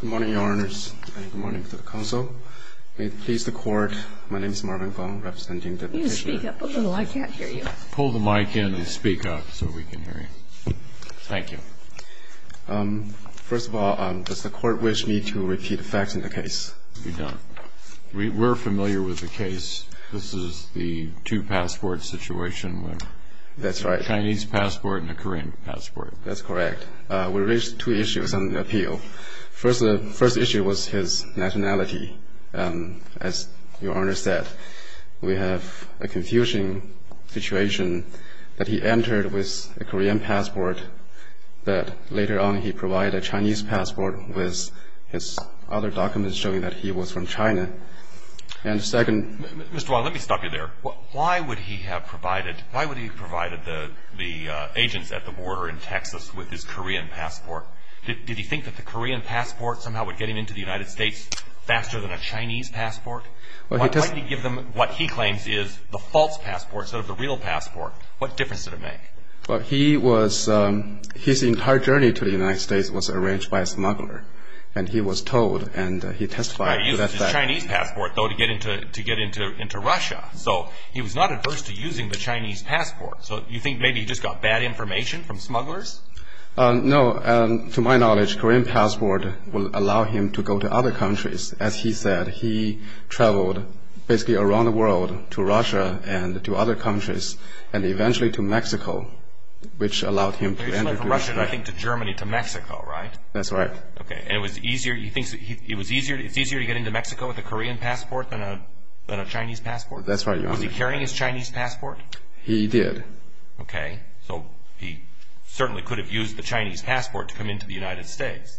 Good morning, Your Honors, and good morning to the Counsel. May it please the Court, my name is Marvin Gong, representing the Petitioner. Can you speak up a little? I can't hear you. Pull the mic in and speak up so we can hear you. Thank you. First of all, does the Court wish me to repeat facts in the case? You're done. We're familiar with the case. This is the two passport situation with a Chinese passport and a Korean passport. That's correct. We raised two issues on the appeal. First issue was his nationality. As Your Honor said, we have a confusing situation that he entered with a Korean passport, but later on he provided a Chinese passport with his other documents showing that he was from China. And second — Mr. Wong, let me stop you there. Why would he have provided the agents at the border in Texas with his Korean passport? Did he think that the Korean passport somehow would get him into the United States faster than a Chinese passport? Why didn't he give them what he claims is the false passport instead of the real passport? What difference did it make? His entire journey to the United States was arranged by a smuggler, and he was told and he testified to that fact. He had a Chinese passport, though, to get into Russia. So he was not adverse to using the Chinese passport. So you think maybe he just got bad information from smugglers? No. To my knowledge, Korean passport will allow him to go to other countries. As he said, he traveled basically around the world to Russia and to other countries and eventually to Mexico, which allowed him to enter the United States. He traveled from Russia, I think, to Germany, to Mexico, right? That's right. Okay. And it's easier to get into Mexico with a Korean passport than a Chinese passport? That's right, Your Honor. Was he carrying his Chinese passport? He did. Okay. So he certainly could have used the Chinese passport to come into the United States.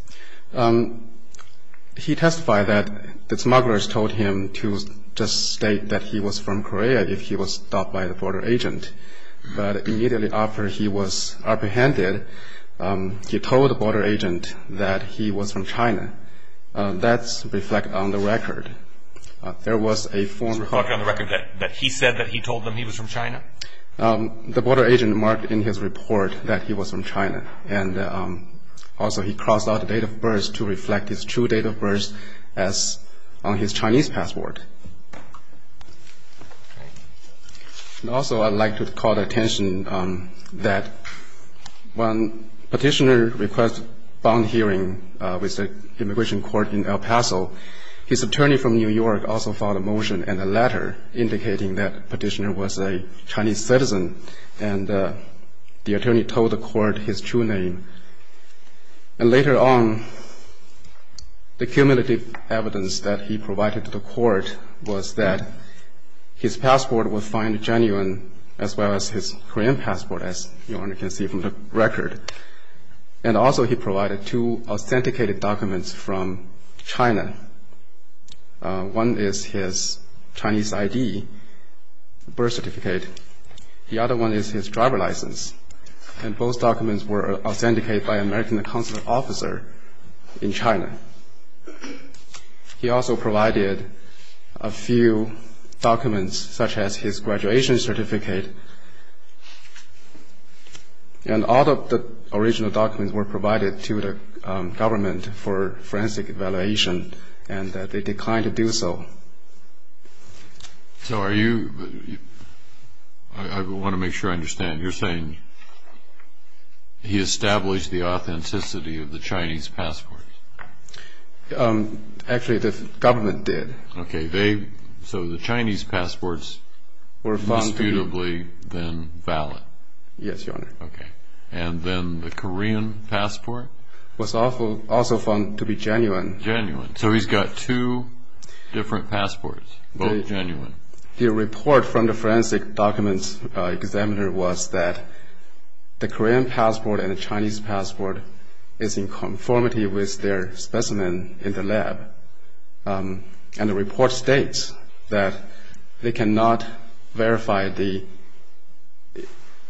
He testified that the smugglers told him to just state that he was from Korea if he was stopped by the border agent. But immediately after he was apprehended, he told the border agent that he was from China. That's reflected on the record. That's reflected on the record that he said that he told them he was from China? The border agent marked in his report that he was from China. And also he crossed out the date of birth to reflect his true date of birth on his Chinese passport. And also I'd like to call attention that when Petitioner requested bond hearing with the Immigration Court in El Paso, his attorney from New York also filed a motion and a letter indicating that Petitioner was a Chinese citizen, and the attorney told the court his true name. And later on, the cumulative evidence that he provided to the court was that his passport was found genuine, as well as his Korean passport, as Your Honor can see from the record. And also he provided two authenticated documents from China. One is his Chinese ID, birth certificate. The other one is his driver license. And both documents were authenticated by an American consular officer in China. He also provided a few documents, such as his graduation certificate. And all of the original documents were provided to the government for forensic evaluation, and they declined to do so. So are you – I want to make sure I understand. You're saying he established the authenticity of the Chinese passports. Actually, the government did. Okay. So the Chinese passports were disputably then valid. Yes, Your Honor. Okay. And then the Korean passport? Was also found to be genuine. Genuine. So he's got two different passports, both genuine. The report from the forensic documents examiner was that the Korean passport and the Chinese passport is in conformity with their specimen in the lab. And the report states that they cannot verify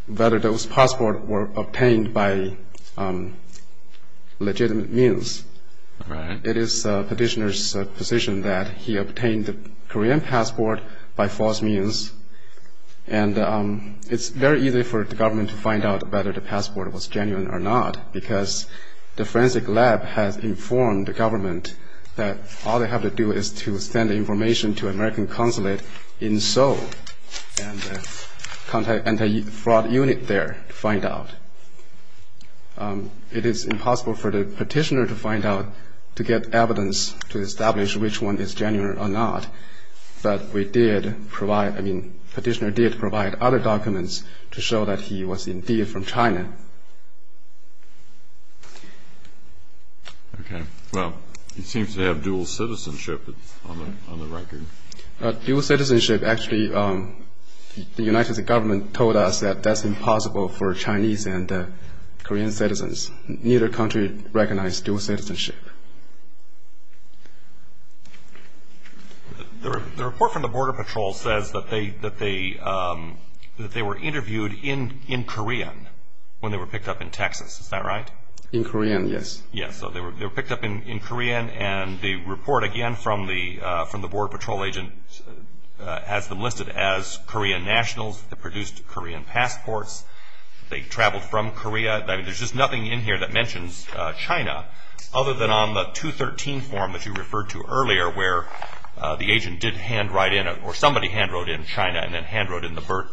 whether those passports were obtained by legitimate means. All right. It is the petitioner's position that he obtained the Korean passport by false means. And it's very easy for the government to find out whether the passport was genuine or not, because the forensic lab has informed the government that all they have to do is to send information to an American consulate in Seoul and contact an anti-fraud unit there to find out. It is impossible for the petitioner to find out, to get evidence to establish which one is genuine or not. But we did provide, I mean, petitioner did provide other documents to show that he was indeed from China. Okay. Well, he seems to have dual citizenship on the record. Dual citizenship, actually, the United States government told us that that's impossible for Chinese and Korean citizens. Neither country recognizes dual citizenship. The report from the Border Patrol says that they were interviewed in Korean when they were picked up in Texas. Is that right? In Korean, yes. Yes, so they were picked up in Korean. And the report, again, from the Border Patrol agent has them listed as Korean nationals that produced Korean passports. They traveled from Korea. I mean, there's just nothing in here that mentions China, other than on the 213 form that you referred to earlier where the agent did handwrite in or somebody handwrote in China and then handwrote in the birth,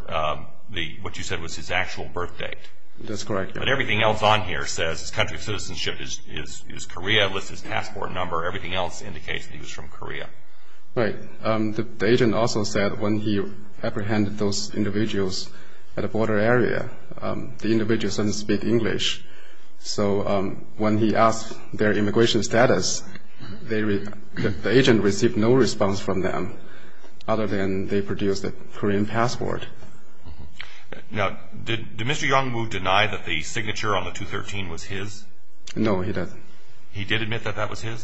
what you said was his actual birth date. That's correct, yes. But everything else on here says his country of citizenship is Korea, lists his passport number. Everything else indicates that he was from Korea. Right. The agent also said when he apprehended those individuals at a border area, the individuals didn't speak English. So when he asked their immigration status, the agent received no response from them, other than they produced a Korean passport. Now, did Mr. Yongmoo deny that the signature on the 213 was his? No, he doesn't. He did admit that that was his?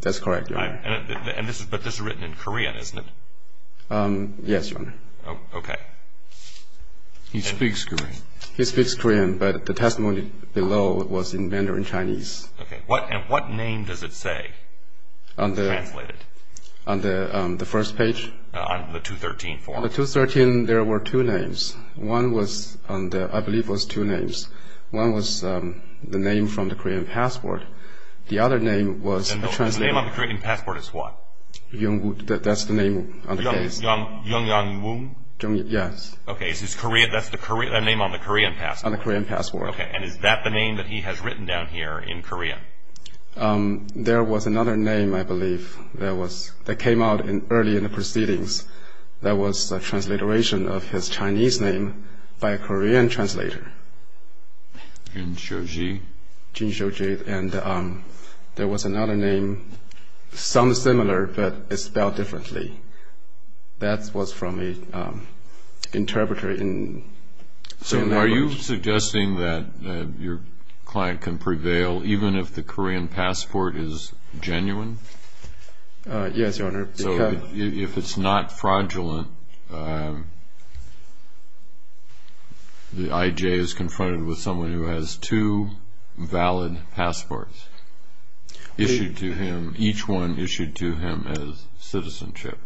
That's correct, Your Honor. But this is written in Korean, isn't it? Yes, Your Honor. Okay. He speaks Korean. He speaks Korean, but the testimony below was in Mandarin Chinese. Okay. And what name does it say translated? On the first page? On the 213 form. On the 213, there were two names. One was, I believe, was two names. One was the name from the Korean passport. The other name was translated. The name on the Korean passport is what? Yongmoo, that's the name on the case. Yongmoo? Yes. Okay, that's the name on the Korean passport? On the Korean passport. Okay. And is that the name that he has written down here in Korean? There was another name, I believe, that came out early in the proceedings. That was a transliteration of his Chinese name by a Korean translator. Jin Xiuji? Jin Xiuji. And there was another name, some similar, but it's spelled differently. That was from an interpreter. So are you suggesting that your client can prevail even if the Korean passport is genuine? Yes, Your Honor. So if it's not fraudulent, the IJ is confronted with someone who has two valid passports issued to him, each one issued to him as citizenship.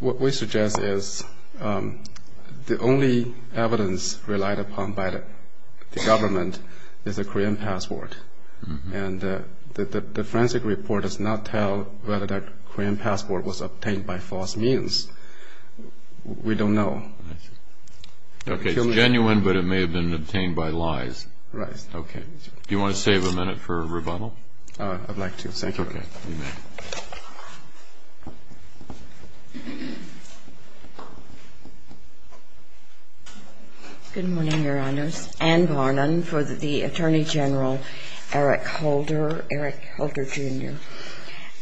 What we suggest is the only evidence relied upon by the government is a Korean passport. And the forensic report does not tell whether that Korean passport was obtained by false means. We don't know. Okay. It's genuine, but it may have been obtained by lies. Right. Okay. Do you want to save a minute for rebuttal? I'd like to. Thank you. Okay. You may. Good morning, Your Honors. Ann Varnon for the Attorney General Eric Holder, Eric Holder, Jr.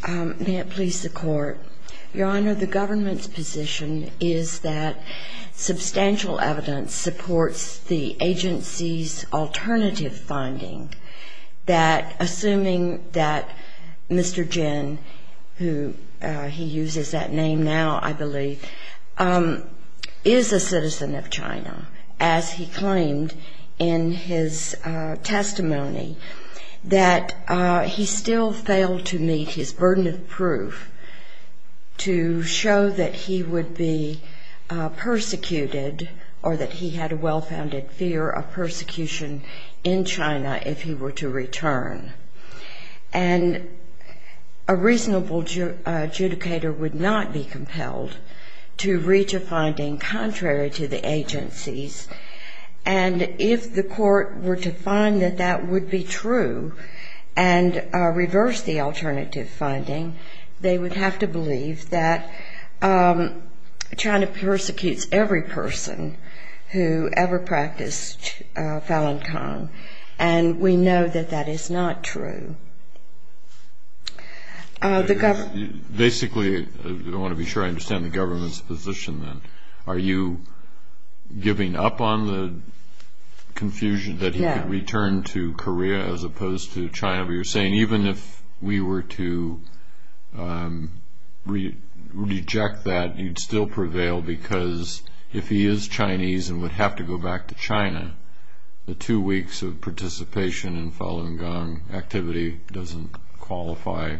May it please the Court. Your Honor, the government's position is that substantial evidence supports the agency's alternative finding that assuming that Mr. Jin, who he uses that name now, I believe, is a citizen of China, as he claimed in his testimony, that he still failed to meet his burden of proof to show that he would be persecuted or that he had a well-founded fear of persecution in China if he were to return. And a reasonable adjudicator would not be compelled to reach a finding contrary to the agency's. And if the Court were to find that that would be true and reverse the alternative finding, they would have to believe that China persecutes every person who ever practiced Falun Gong. And we know that that is not true. Basically, I want to be sure I understand the government's position then. Are you giving up on the confusion that he could return to Korea as opposed to China? You're saying even if we were to reject that, he'd still prevail because if he is Chinese and would have to go back to China, the two weeks of participation in Falun Gong activity doesn't qualify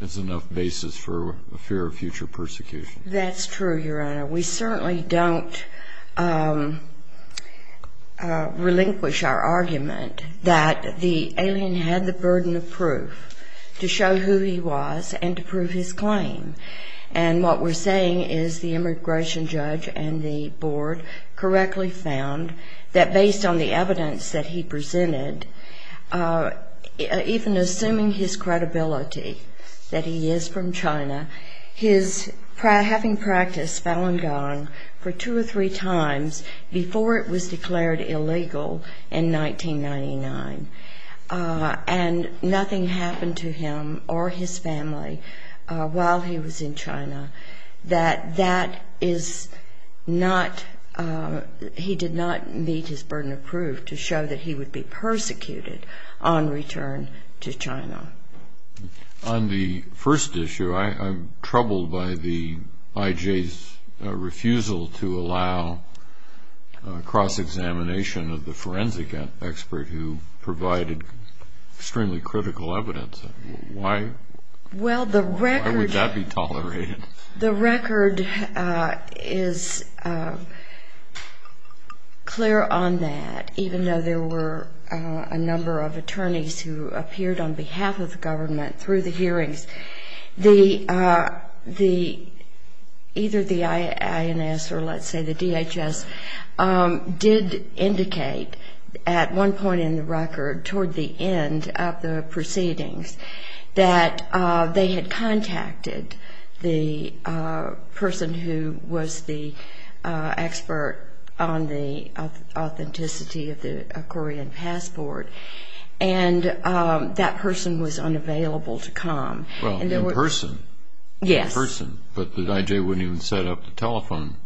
as enough basis for a fear of future persecution. That's true, Your Honor. We certainly don't relinquish our argument that the alien had the burden of proof to show who he was and to prove his claim. And what we're saying is the immigration judge and the board correctly found that based on the evidence that he presented, even assuming his credibility that he is from China, his having practiced Falun Gong for two or three times before it was declared illegal in 1999. And nothing happened to him or his family while he was in China that he did not meet his burden of proof to show that he would be persecuted on return to China. On the first issue, I'm troubled by the IJ's refusal to allow cross-examination of the forensic expert who provided extremely critical evidence. Why would that be tolerated? The record is clear on that, even though there were a number of attorneys who appeared on behalf of the government through the hearings, either the INS or let's say the DHS did indicate at one point in the record toward the end of the proceedings that they had contacted the person who was the expert on the authenticity of the Korean passport, and that person was unavailable to come. Well, in person. Yes. In person, but the IJ wouldn't even set up the telephone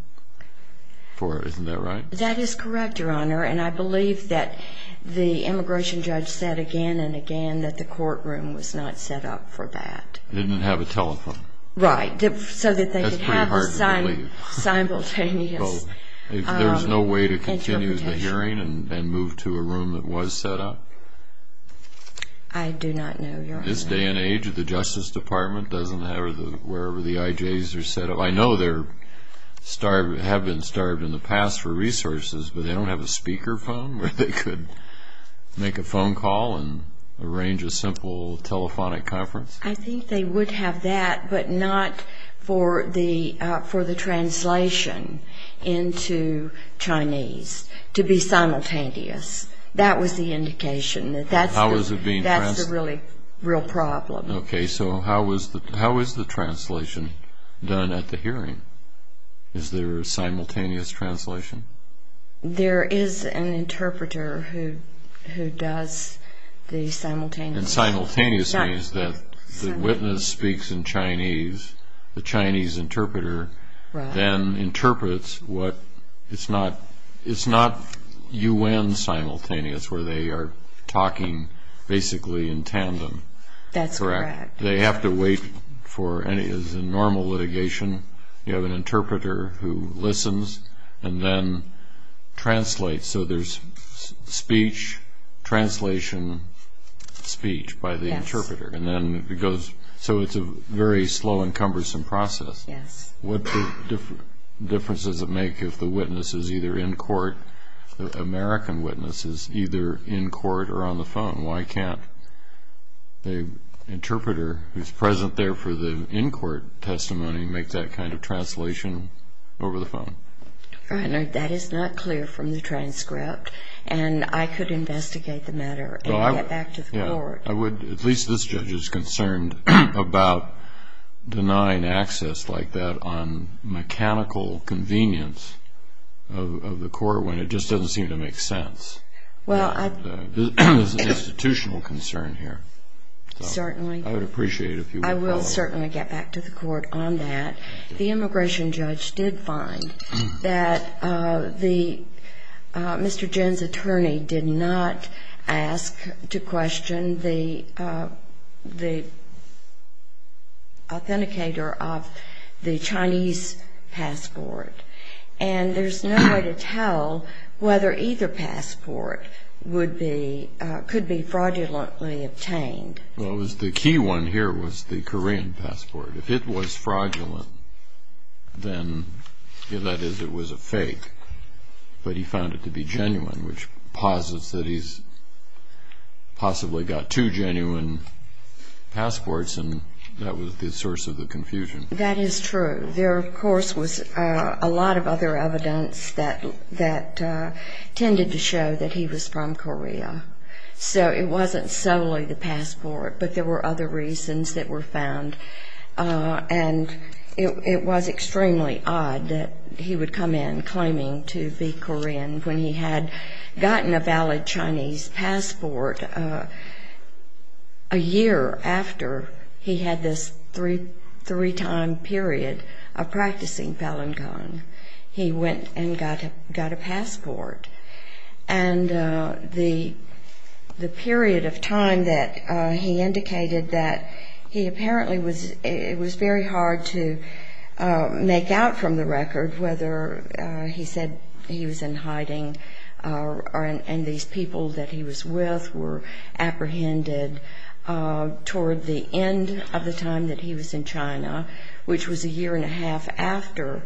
for it, isn't that right? That is correct, Your Honor, and I believe that the immigration judge said again and again that the courtroom was not set up for that. They didn't have a telephone. Right, so that they could have a simultaneous phone. There was no way to continue the hearing and move to a room that was set up? I do not know, Your Honor. In this day and age, the Justice Department doesn't have, wherever the IJs are set up, I know they have been starved in the past for resources, but they don't have a speaker phone where they could make a phone call and arrange a simple telephonic conference? I think they would have that, but not for the translation into Chinese to be simultaneous. That was the indication that that's the real problem. Okay, so how is the translation done at the hearing? Is there a simultaneous translation? There is an interpreter who does the simultaneous. Simultaneous means that the witness speaks in Chinese. The Chinese interpreter then interprets. It's not U.N. simultaneous where they are talking basically in tandem. That's correct. They have to wait for a normal litigation. You have an interpreter who listens and then translates. So there's speech, translation, speech by the interpreter. Yes. So it's a very slow and cumbersome process. Yes. What difference does it make if the witness is either in court, the American witness is either in court or on the phone? Why can't the interpreter who is present there for the in-court testimony make that kind of translation over the phone? That is not clear from the transcript, and I could investigate the matter and get back to the court. At least this judge is concerned about denying access like that on mechanical convenience of the court when it just doesn't seem to make sense. It's an institutional concern here. Certainly. I would appreciate it if you would follow up. I will certainly get back to the court on that. The immigration judge did find that Mr. Jin's attorney did not ask to question the authenticator of the Chinese passport. And there's no way to tell whether either passport could be fraudulently obtained. Well, the key one here was the Korean passport. If it was fraudulent, then that is it was a fake, but he found it to be genuine, which posits that he's possibly got two genuine passports, and that was the source of the confusion. That is true. There, of course, was a lot of other evidence that tended to show that he was from Korea. So it wasn't solely the passport, but there were other reasons that were found. And it was extremely odd that he would come in claiming to be Korean when he had gotten a valid Chinese passport a year after he had this three-time period of practicing Falun Gong. He went and got a passport. And the period of time that he indicated that he apparently was, it was very hard to make out from the record whether he said he was in hiding and these people that he was with were apprehended toward the end of the time that he was in China, which was a year and a half after.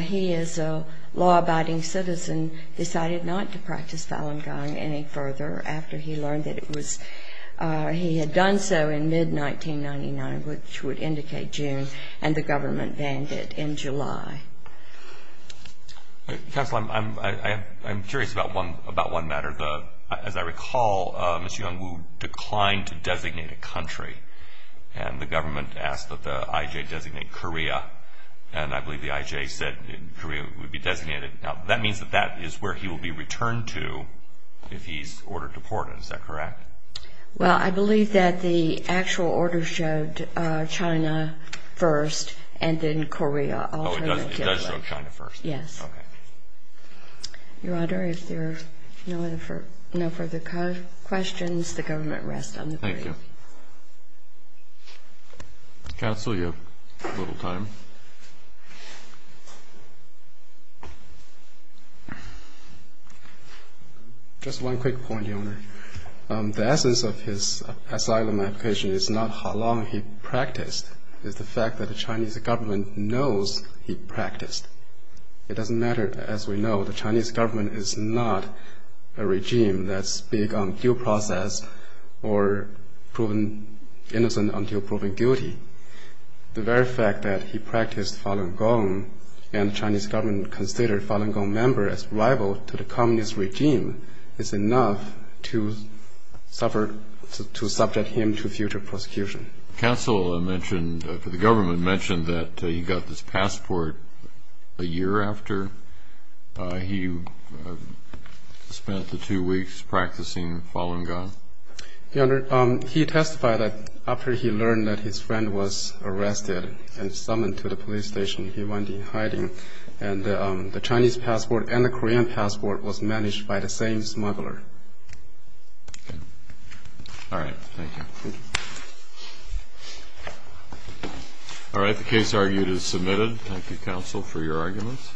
He, as a law-abiding citizen, decided not to practice Falun Gong any further after he learned that he had done so in mid-1999, which would indicate June, and the government banned it in July. Counsel, I'm curious about one matter. As I recall, Mr. Jung Woo declined to designate a country, and the government asked that the IJ designate Korea, and I believe the IJ said Korea would be designated. Now, that means that that is where he will be returned to if he's ordered deported. Is that correct? Well, I believe that the actual order showed China first and then Korea alternatively. Oh, it does show China first? Yes. Okay. Your Honor, if there are no further questions, the government rests on the brief. Thank you. Counsel, you have a little time. Just one quick point, Your Honor. The essence of his asylum application is not how long he practiced. It's the fact that the Chinese government knows he practiced. It doesn't matter, as we know, the Chinese government is not a regime that's big on due process or proven innocent until proven guilty. The very fact that he practiced Falun Gong and the Chinese government considered a Falun Gong member as rival to the communist regime is enough to subject him to future prosecution. Counsel, the government mentioned that he got this passport a year after he spent the two weeks practicing Falun Gong. Your Honor, he testified that after he learned that his friend was arrested and summoned to the police station, he went in hiding, and the Chinese passport and the Korean passport was managed by the same smuggler. Okay. All right. Thank you. Thank you. All right. The case argued is submitted. Thank you, Counsel, for your arguments.